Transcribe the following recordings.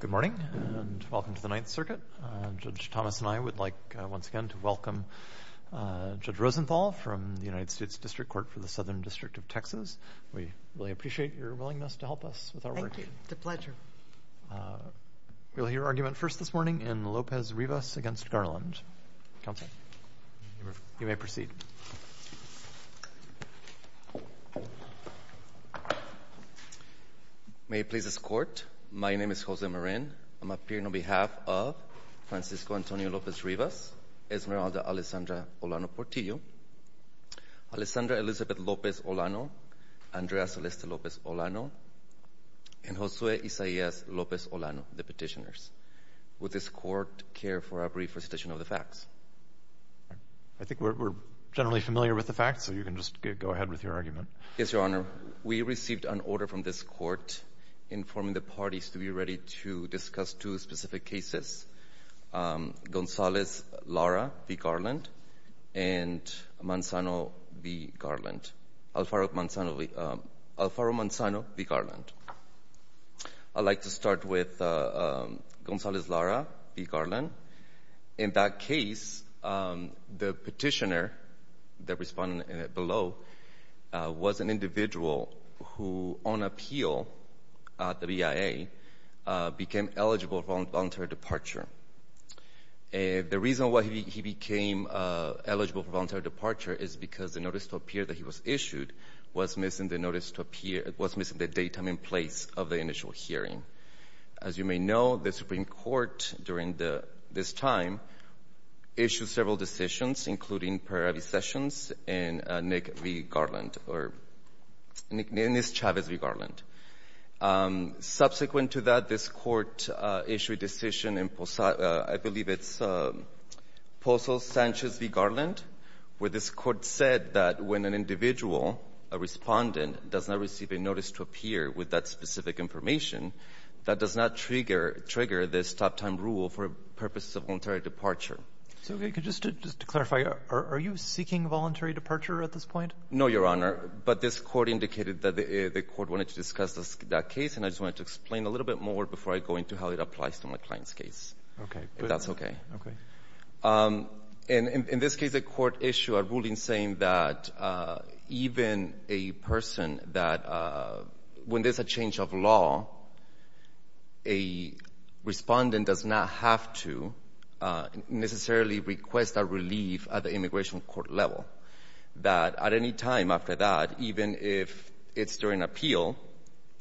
Good morning and welcome to the Ninth Circuit. Judge Thomas and I would like once again to welcome Judge Rosenthal from the United States District Court for the Southern District of Texas. We really appreciate your willingness to help us with our work. Thank you, it's a pleasure. We'll hear argument first this morning in Lopez Rivas v. Garland. Counsel, you may proceed. May it please this Court, my name is Jose Moren. I'm appearing on behalf of Francisco Antonio Lopez Rivas, Esmeralda Alessandra Olano-Portillo, Alessandra Elizabeth Lopez Olano, Andrea Celeste Lopez Olano, and Josue Isaias Lopez Olano, the petitioners. Would this Court care for a brief presentation of the facts? I think we're generally familiar with the facts, so you can just go ahead with your argument. Yes, Your Honor, we received an order from this Court informing the parties to be ready to discuss two specific cases, Gonzalez-Lara v. Garland and Manzano v. Garland, Alfaro-Manzano v. Garland. I'd like to start with Gonzalez-Lara v. Garland. In that case, the petitioner, the respondent below, was an individual who, on appeal at the BIA, became eligible for voluntary departure. The reason why he became eligible for voluntary departure is because the notice to appear that he was issued was missing the date and in place of the initial hearing. As you may know, the Supreme Court, during this time, issued several decisions, including Pereira v. Sessions and Nick v. Garland, or Nicknames Chavez v. Garland. Subsequent to that, this Court issued a decision in, I believe it's Pozo Sanchez v. Garland, where this Court said that when an individual, a respondent, does not receive a notice to appear with that specific information, that does not trigger this top-time rule for purposes of voluntary departure. So just to clarify, are you seeking voluntary departure at this point? No, Your Honor, but this Court indicated that the Court wanted to discuss that case, and I just wanted to explain a little bit more before I go into how it applies to my client's case. Okay. That's okay. Okay. And in this case, the Court issued a ruling saying that even a person that when there's a change of law, a respondent does not have to necessarily request a relief at the immigration court level. That at any time after that, even if it's during appeal,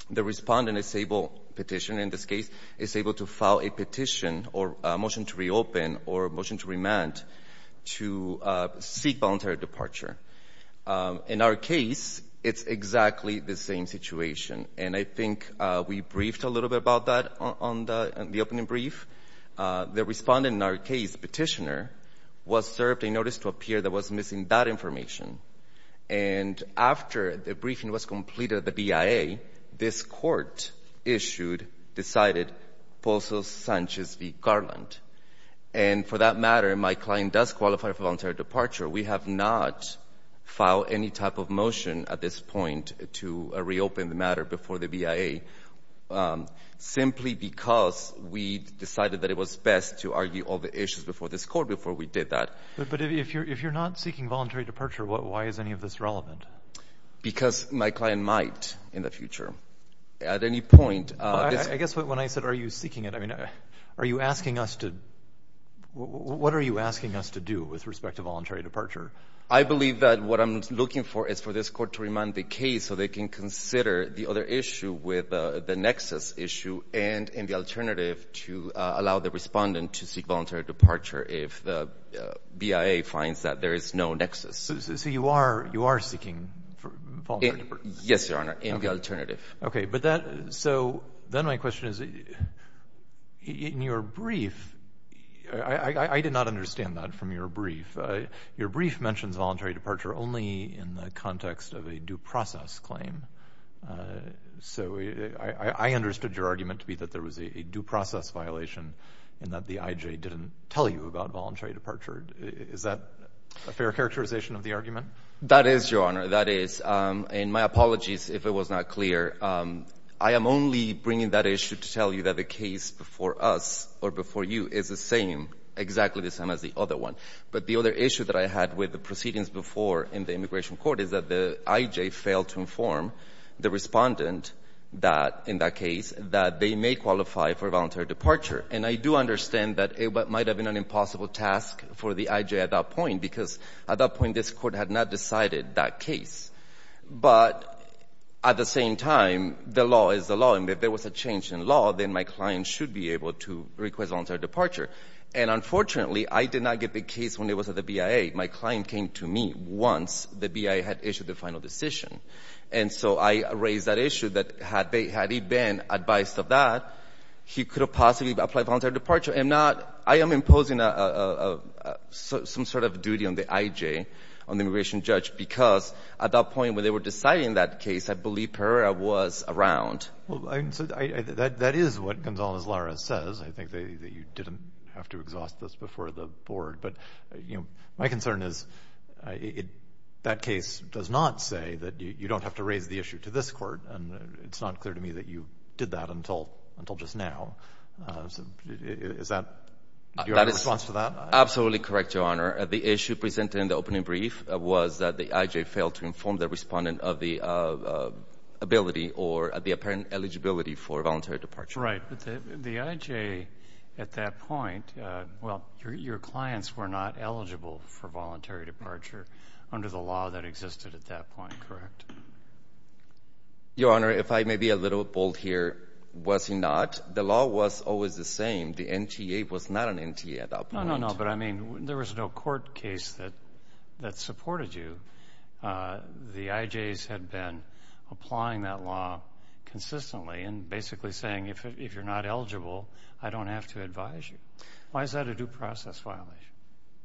the respondent is able, petition in this case, is able to file a petition or a motion to reopen or a motion to remand to seek voluntary departure. In our case, it's exactly the same situation, and I think we briefed a little bit about that on the opening brief. The respondent in our case, the petitioner, was served a notice to appear that was missing that information, and after the briefing was completed at the BIA, this Court issued, decided, Polsos-Sanchez v. Garland. And for that matter, my client does qualify for voluntary departure. We have not filed any type of motion at this point to reopen the matter before the BIA, simply because we decided that it was best to argue all the issues before this Court before we did that. But if you're not seeking voluntary departure, why is any of this relevant? Because my client might, in the future, at any point... I guess when I said are you seeking it, I mean, are you asking us to... what are you asking us to do with respect to voluntary departure? I believe that what I'm looking for is for this Court to remand the case so they can consider the other issue with the nexus issue and in the alternative to allow the respondent to seek voluntary departure if the BIA finds that there is no nexus. So you are you are seeking... Yes, Your Honor, in the alternative. Okay, but that... so then my question is, in your brief, I did not understand that from your brief. Your brief mentions voluntary departure only in the context of a due process claim. So I understood your argument to be that there was a due process violation and that the IJ didn't tell you about voluntary departure. Is that a fair characterization of the argument? That is, Your Honor, that is. And my apologies if it was not clear. I am only bringing that issue to tell you that the case before us or before you is the same, exactly the same as the other one. But the other issue that I had with the proceedings before in the Immigration Court is that the IJ failed to inform the respondent that, in that case, that they may qualify for voluntary departure. And I do apologize for the IJ at that point, because at that point, this Court had not decided that case. But at the same time, the law is the law, and if there was a change in law, then my client should be able to request voluntary departure. And unfortunately, I did not get the case when it was at the BIA. My client came to me once the BIA had issued the final decision. And so I raised that issue that had he been advised of that, he could have possibly applied voluntary departure and not — I am imposing some sort of duty on the IJ, on the immigration judge, because at that point when they were deciding that case, I believe Pereira was around. Well, that is what Gonzalez-Lara says. I think that you didn't have to exhaust this before the Board. But, you know, my concern is that case does not say that you don't have to raise the issue to this Court. And it's not clear to me that you did that until just now. Is that your response to that? Absolutely correct, Your Honor. The issue presented in the opening brief was that the IJ failed to inform the respondent of the ability or the apparent eligibility for voluntary departure. Right. But the IJ at that point, well, your clients were not eligible for voluntary departure under the law that existed at that point, correct? Your Honor, if I may be a little bold here, was he not? The law was always the same. The NTA was not an NTA at that point. No, no, no. But, I mean, there was no court case that supported you. The IJs had been applying that law consistently and basically saying, if you're not eligible, I don't have to advise you. Why is that a due process violation?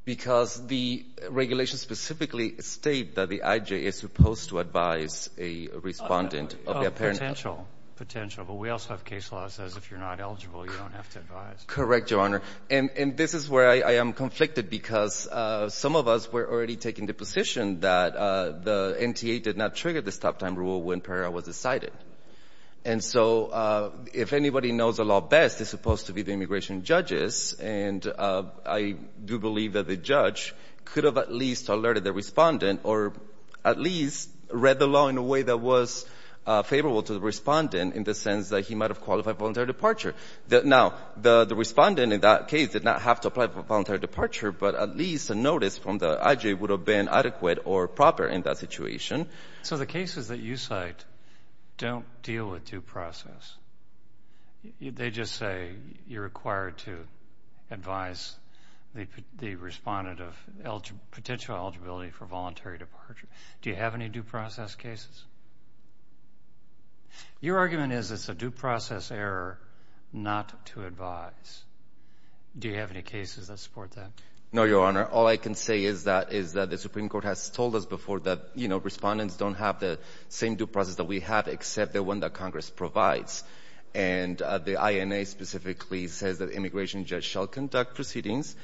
Because the regulations specifically state that the IJ is supposed to advise a respondent of the apparent eligibility. Potential, potential. But we also have case law that says if you're not eligible, you don't have to advise. Correct, Your Honor. And this is where I am conflicted because some of us were already taking the position that the NTA did not trigger the stop-time rule when parallel was decided. And so if anybody knows the law best, they're supposed to be the immigration judges. And I do believe that the judge could have at least alerted the respondent or at least read the law in a way that was favorable to the respondent in the sense that he might have qualified voluntary departure. Now, the respondent in that case did not have to apply for voluntary departure, but at least a notice from the IJ would have been adequate or proper in that situation. So the cases that you cite don't deal with due process. They just say you're required to advise the respondent of potential eligibility for voluntary departure. Do you have any due process cases? Your argument is it's a due process error not to advise. Do you have any cases that support that? No, Your Honor. All I can say is that is that the Supreme Court has told us before that, you know, respondents don't have the same due process that we have except the one that Congress provides. And the INA specifically says that immigration judge shall conduct proceedings.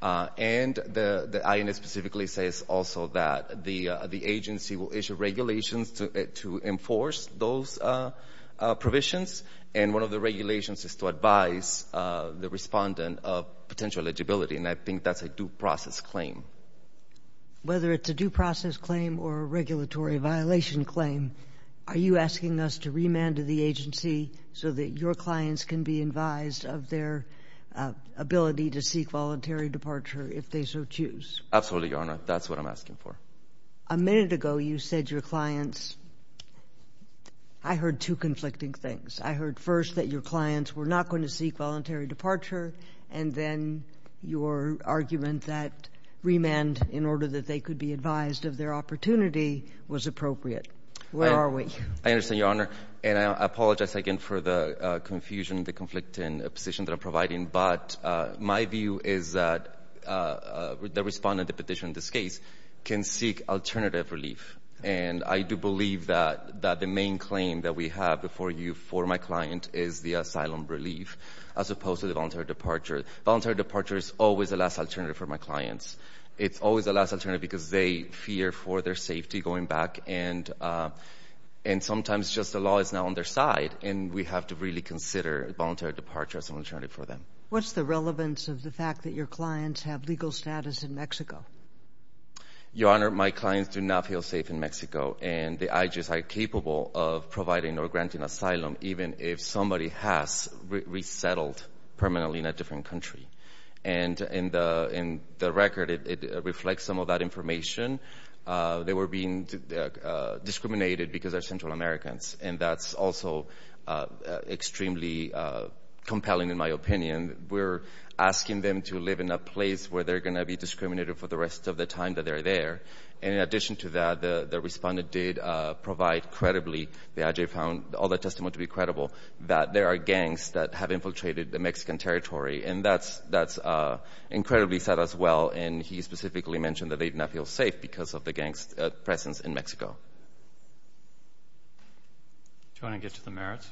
And the INA specifically says also that the agency will issue regulations to enforce those provisions. And one of the regulations is to advise the respondent of potential eligibility. And I think that's a due process claim. Whether it's a due process claim or a regulatory violation claim, are you asking us to remand to the agency so that your clients can be advised of their ability to seek voluntary departure if they so choose? Absolutely, Your Honor. That's what I'm asking for. A minute ago, you said your clients. I heard two conflicting things. I heard first that your clients were not going to seek voluntary departure. And then your argument that remand in order that they could be advised of their opportunity was appropriate. Where are we? I understand, Your Honor. And I apologize again for the confusion, the conflicting position that I'm providing. But my view is that the respondent of the petition in this case can seek alternative relief. And I do believe that the main claim that we have before you for my client is the asylum relief as opposed to the voluntary departure. Voluntary departure is always the last alternative for my clients. It's always the last alternative because they fear for their safety going back. And sometimes just the law is now on their side. And we have to really consider voluntary departure as an alternative for them. What's the relevance of the fact that your clients have legal status in Your Honor, my clients do not feel safe in Mexico. And the IJS are capable of providing or granting asylum even if somebody has resettled permanently in a different country. And in the record, it reflects some of that information. They were being discriminated because they're Central Americans. And that's also extremely compelling in my opinion. We're asking them to live in a place where they're going to be discriminated for the rest of the time that they're there. And in addition to that, the respondent did provide credibly, the IJS found all the testimony to be credible, that there are gangs that have infiltrated the Mexican territory. And that's incredibly sad as well. And he specifically mentioned that they did not feel safe because of the gang's presence in Mexico. Do you want to get to the merits?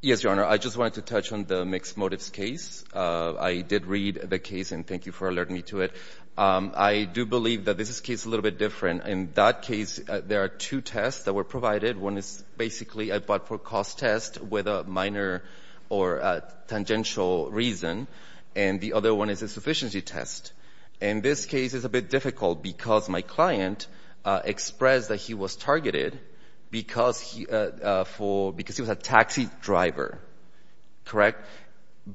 Yes, Your Honor. I just wanted to touch on the mixed motives case. I did read the case and thank you for alerting me to it. I do believe that this is a case a little bit different. In that case, there are two tests that were provided. One is basically a but-for-cost test with a minor or tangential reason. And the other one is a sufficiency test. In this case, it's a bit difficult because my client expressed that he was targeted because he was a taxi driver. Correct?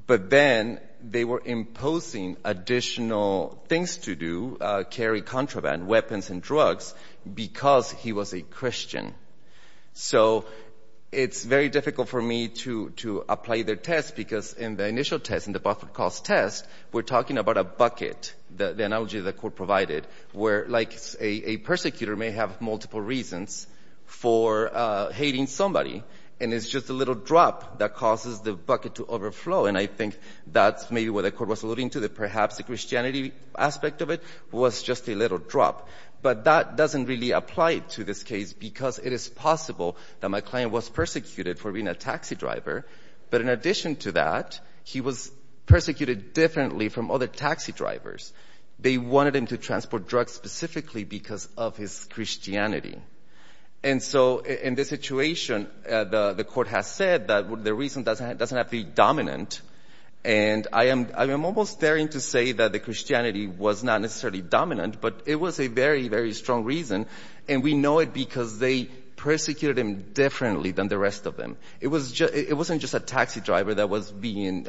But then they were imposing additional things to do, carry contraband, weapons and drugs, because he was a Christian. So it's very difficult for me to apply their test because in the initial test, in the but-for-cost test, we're talking about a bucket, the analogy the court provided, where like a persecutor may have multiple reasons for hating somebody. And it's just a little drop that causes the bucket to overflow. And I think that's maybe what the court was alluding to, that perhaps the Christianity aspect of it was just a little drop. But that doesn't really apply to this case because it is possible that my client was persecuted for being a taxi driver. But in addition to that, he was persecuted differently from other taxi drivers. They wanted him to transport drugs specifically because of his Christianity. And so in this situation, the court has said that the reason doesn't have to be dominant. And I am almost daring to say that the Christianity was not necessarily dominant, but it was a very, very strong reason. And we know it because they persecuted him differently than the rest of them. It wasn't just a taxi driver that was being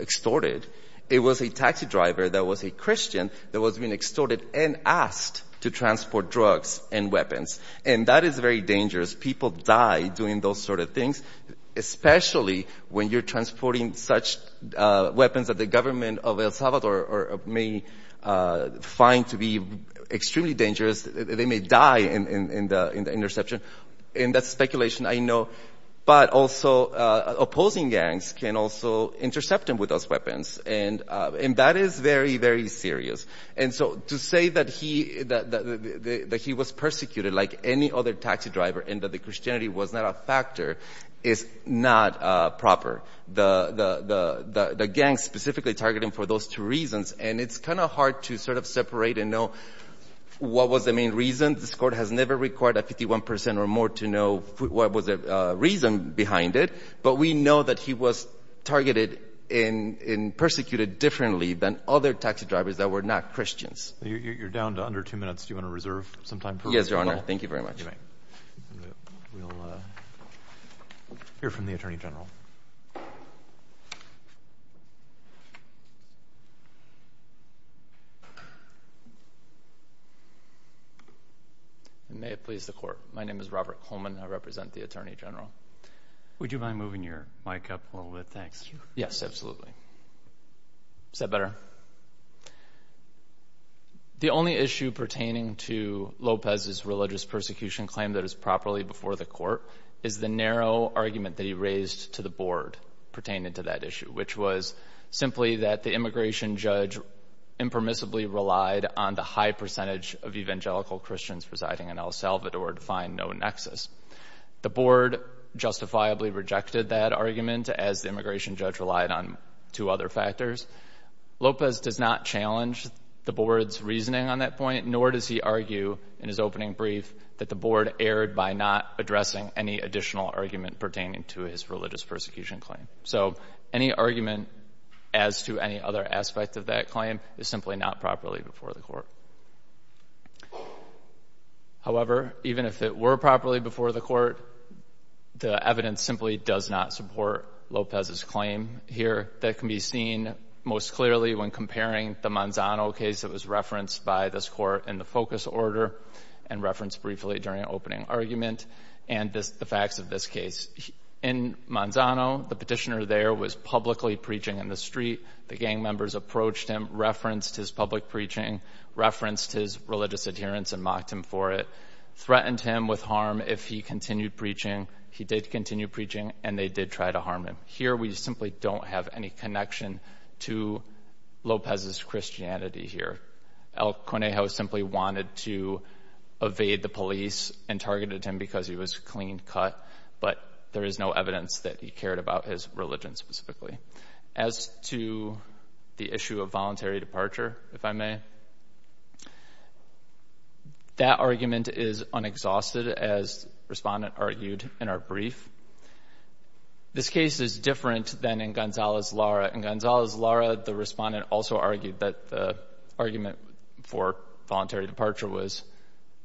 extorted. It was a taxi driver that was a Christian that was being extorted and asked to transport drugs and weapons. And that is very dangerous. People die doing those sort of things, especially when you're transporting such weapons that the government of El Salvador may find to be extremely dangerous. They may die in the interception. And that's speculation, I know. But also, opposing gangs can also intercept him with those weapons. And that is very, very serious. And so to say that he was persecuted like any other taxi driver and that the Christianity was not a factor is not proper. The gang specifically targeted him for those two reasons. And it's kind of hard to sort of separate and know what was the main reason. This court has never required a 51% or more to know what was the reason behind it. But we know that he was targeted and persecuted differently than other taxi drivers that were not Christians. You're down to under two minutes. Do you want to reserve some time? Yes, Your Honor. Thank you very much. We'll hear from the Attorney General. May it please the Court. My name is Robert Coleman. I represent the Attorney General. Would you mind moving your mic up a little bit? Thanks. Yes, absolutely. Is that better? The only issue pertaining to Lopez's religious persecution claim that is properly before the court is the narrow argument that he raised to the Board pertaining to that issue, which was simply that the immigration judge impermissibly relied on the high percentage of evangelical Christians residing in El Salvador to find no nexus. The Board justifiably rejected that argument as the immigration judge relied on two other factors. Lopez does not challenge the Board's reasoning on that point, nor does he argue in his opening brief that the Board erred by not addressing any additional argument pertaining to his religious persecution claim. So any argument as to any other aspect of that claim is simply not properly before the court. However, even if it were properly before the court, the evidence simply does not support Lopez's claim here. That can be seen most clearly when comparing the Manzano case that was referenced by this Court in the focus order and referenced briefly during an opening argument and the facts of this case. In Manzano, the petitioner there was publicly preaching in the street. The gang members approached him, referenced his public preaching, referenced his religious adherence and mocked him for it, threatened him with harm if he continued preaching. He did continue preaching and they did try to harm him. Here we simply don't have any connection to Lopez's Christianity here. El Conejo simply wanted to evade the police and targeted him because he was clean-cut, but there is no evidence that he cared about his religion That argument is unexhausted, as Respondent argued in our brief. This case is different than in Gonzalez-Lara. In Gonzalez-Lara, the Respondent also argued that the argument for voluntary departure was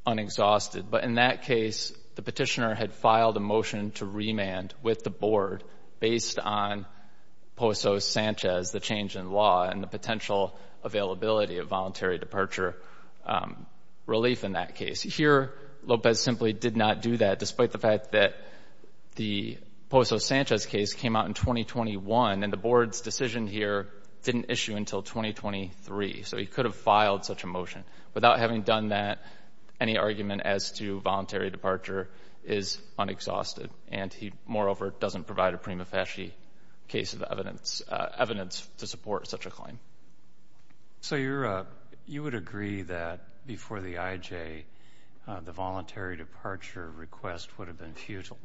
unexhausted, but in that case, the petitioner had filed a motion to remand with the board based on Poso Sanchez, the change in law and the potential availability of voluntary departure relief in that case. Here, Lopez simply did not do that despite the fact that the Poso Sanchez case came out in 2021 and the board's decision here didn't issue until 2023, so he could have filed such a motion. Without having done that, any argument as to voluntary departure is unexhausted and he, moreover, doesn't provide a prima facie case of evidence to support such a claim. So you would agree that before the IJ, the voluntary departure request would have been futile?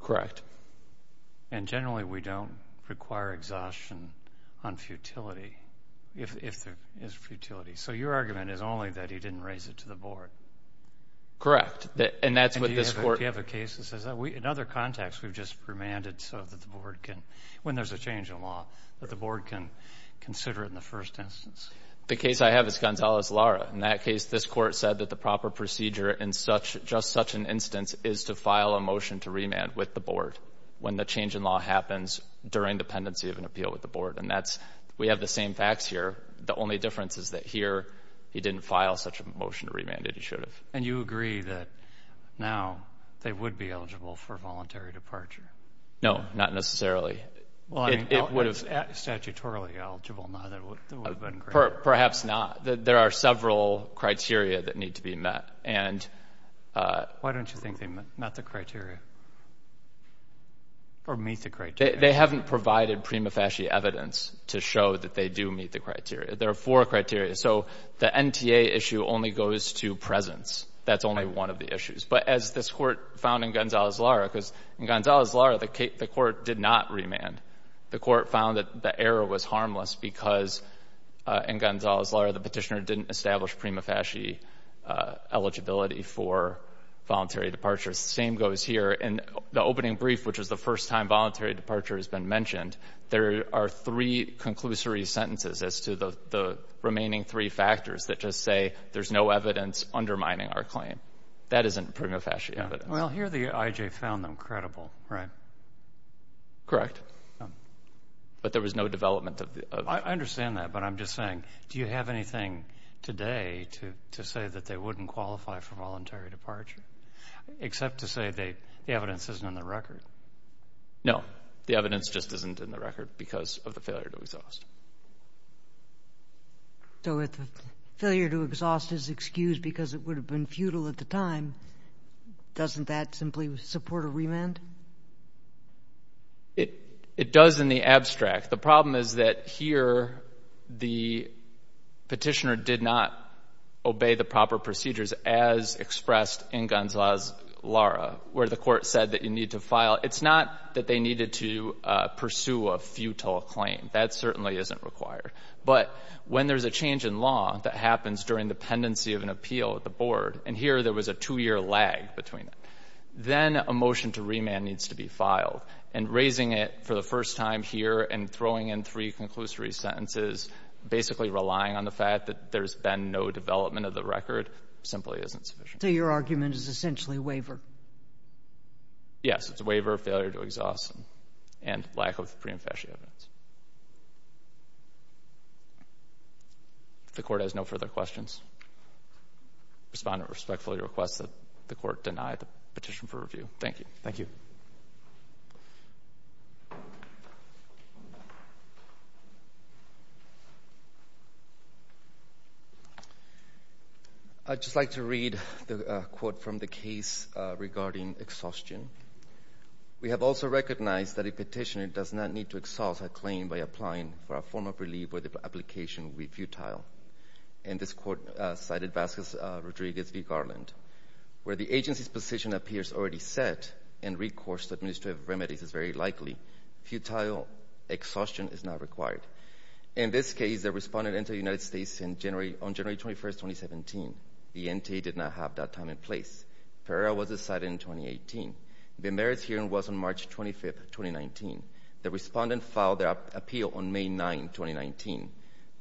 Correct. And generally, we don't require exhaustion on futility, if there is futility. So your argument is only that he didn't raise it to the board? Correct, and that's what this court... Do you have a case that says that? In other contexts, we've just remanded so the board can, when there's a change in law, that the board can consider it in the first instance. The case I have is Gonzalez-Lara. In that case, this court said that the proper procedure in just such an instance is to file a motion to remand with the board when the change in law happens during dependency of an appeal with the board, and we have the same facts here. The only difference is that here, he didn't file such a motion to remand. He should have. And you agree that now, they would be eligible for voluntary departure? No, not necessarily. It would have... Statutorily eligible? Perhaps not. There are several criteria that need to be met, and... Why don't you think they met the criteria, or meet the criteria? They haven't provided prima facie evidence to show that they do meet the criteria. There are four criteria. So the NTA issue only goes to presence. That's only one of the issues. But as this court found in Gonzalez-Lara, because in Gonzalez-Lara, the court did not remand. The court found that the error was harmless because in Gonzalez-Lara, the petitioner didn't establish prima facie eligibility for voluntary departure. The same goes here. In the opening brief, which is the first time voluntary departure has been mentioned, there are three conclusory sentences as to the remaining three factors that just say there's no evidence undermining our claim. That isn't prima facie evidence. Well, here the IJ found them credible, right? Correct. But there was no development of... I understand that, but I'm just saying, do you have anything today to say that they wouldn't qualify for voluntary departure, except to say the evidence isn't in the record? No. The evidence just isn't in the record because of the failure to exhaust. So if the failure to exhaust is excused because it would have been futile at the time, doesn't that simply support a remand? It does in the abstract. The problem is that here the petitioner did not obey the proper procedures as expressed in Gonzalez-Lara, where the court said that you need to file. It's not that they needed to pursue a futile claim. That certainly isn't required. But when there's a change in law that happens during the pendency of an appeal at the Board, and here there was a two-year lag between them, then a motion to remand needs to be filed. And raising it for the first time here and throwing in three conclusory sentences, basically relying on the fact that there's been no development of the record, simply isn't sufficient. So your argument is essentially waiver? Yes, it's a waiver, failure to exhaust, and lack of pre-emphasis evidence. The court has no further questions. Respondent respectfully requests that the court deny the petition for review. Thank you. Thank you. I'd just like to read the quote from the case regarding exhaustion. We have also recognized that a petitioner does not need to exhaust a claim by applying for a form of relief where the application would be futile. And this quote cited Vasquez-Rodriguez v. Garland, where the agency's position appears already set and a recourse to administrative remedies is very likely. Futile exhaustion is not required. In this case, the respondent entered the United States on January 21, 2017. The NTA did not have that time and place. The period was decided in 2018. The merits hearing was on March 25, 2019. The respondent filed their appeal on May 9, 2019.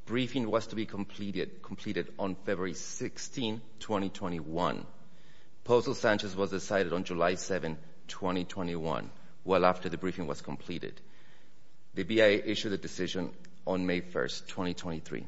The briefing was to be completed on February 16, 2021. Postal sanctions was decided on July 7, 2021, well after the briefing was completed. The BIA issued a decision on May 1, 2023.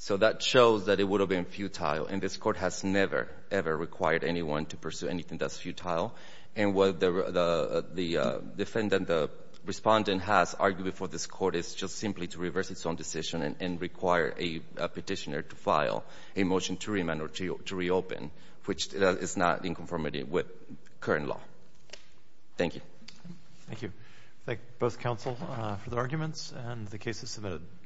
So that shows that it would have been futile, and this court has never, ever required anyone to pursue anything that's futile. And what the defendant, the respondent, has argued before this court is just simply to reverse its own decision and require a petitioner to file a motion to remand or to reopen, which is not in conformity with current law. Thank you. Thank you. Thank both counsel for the arguments and the cases submitted.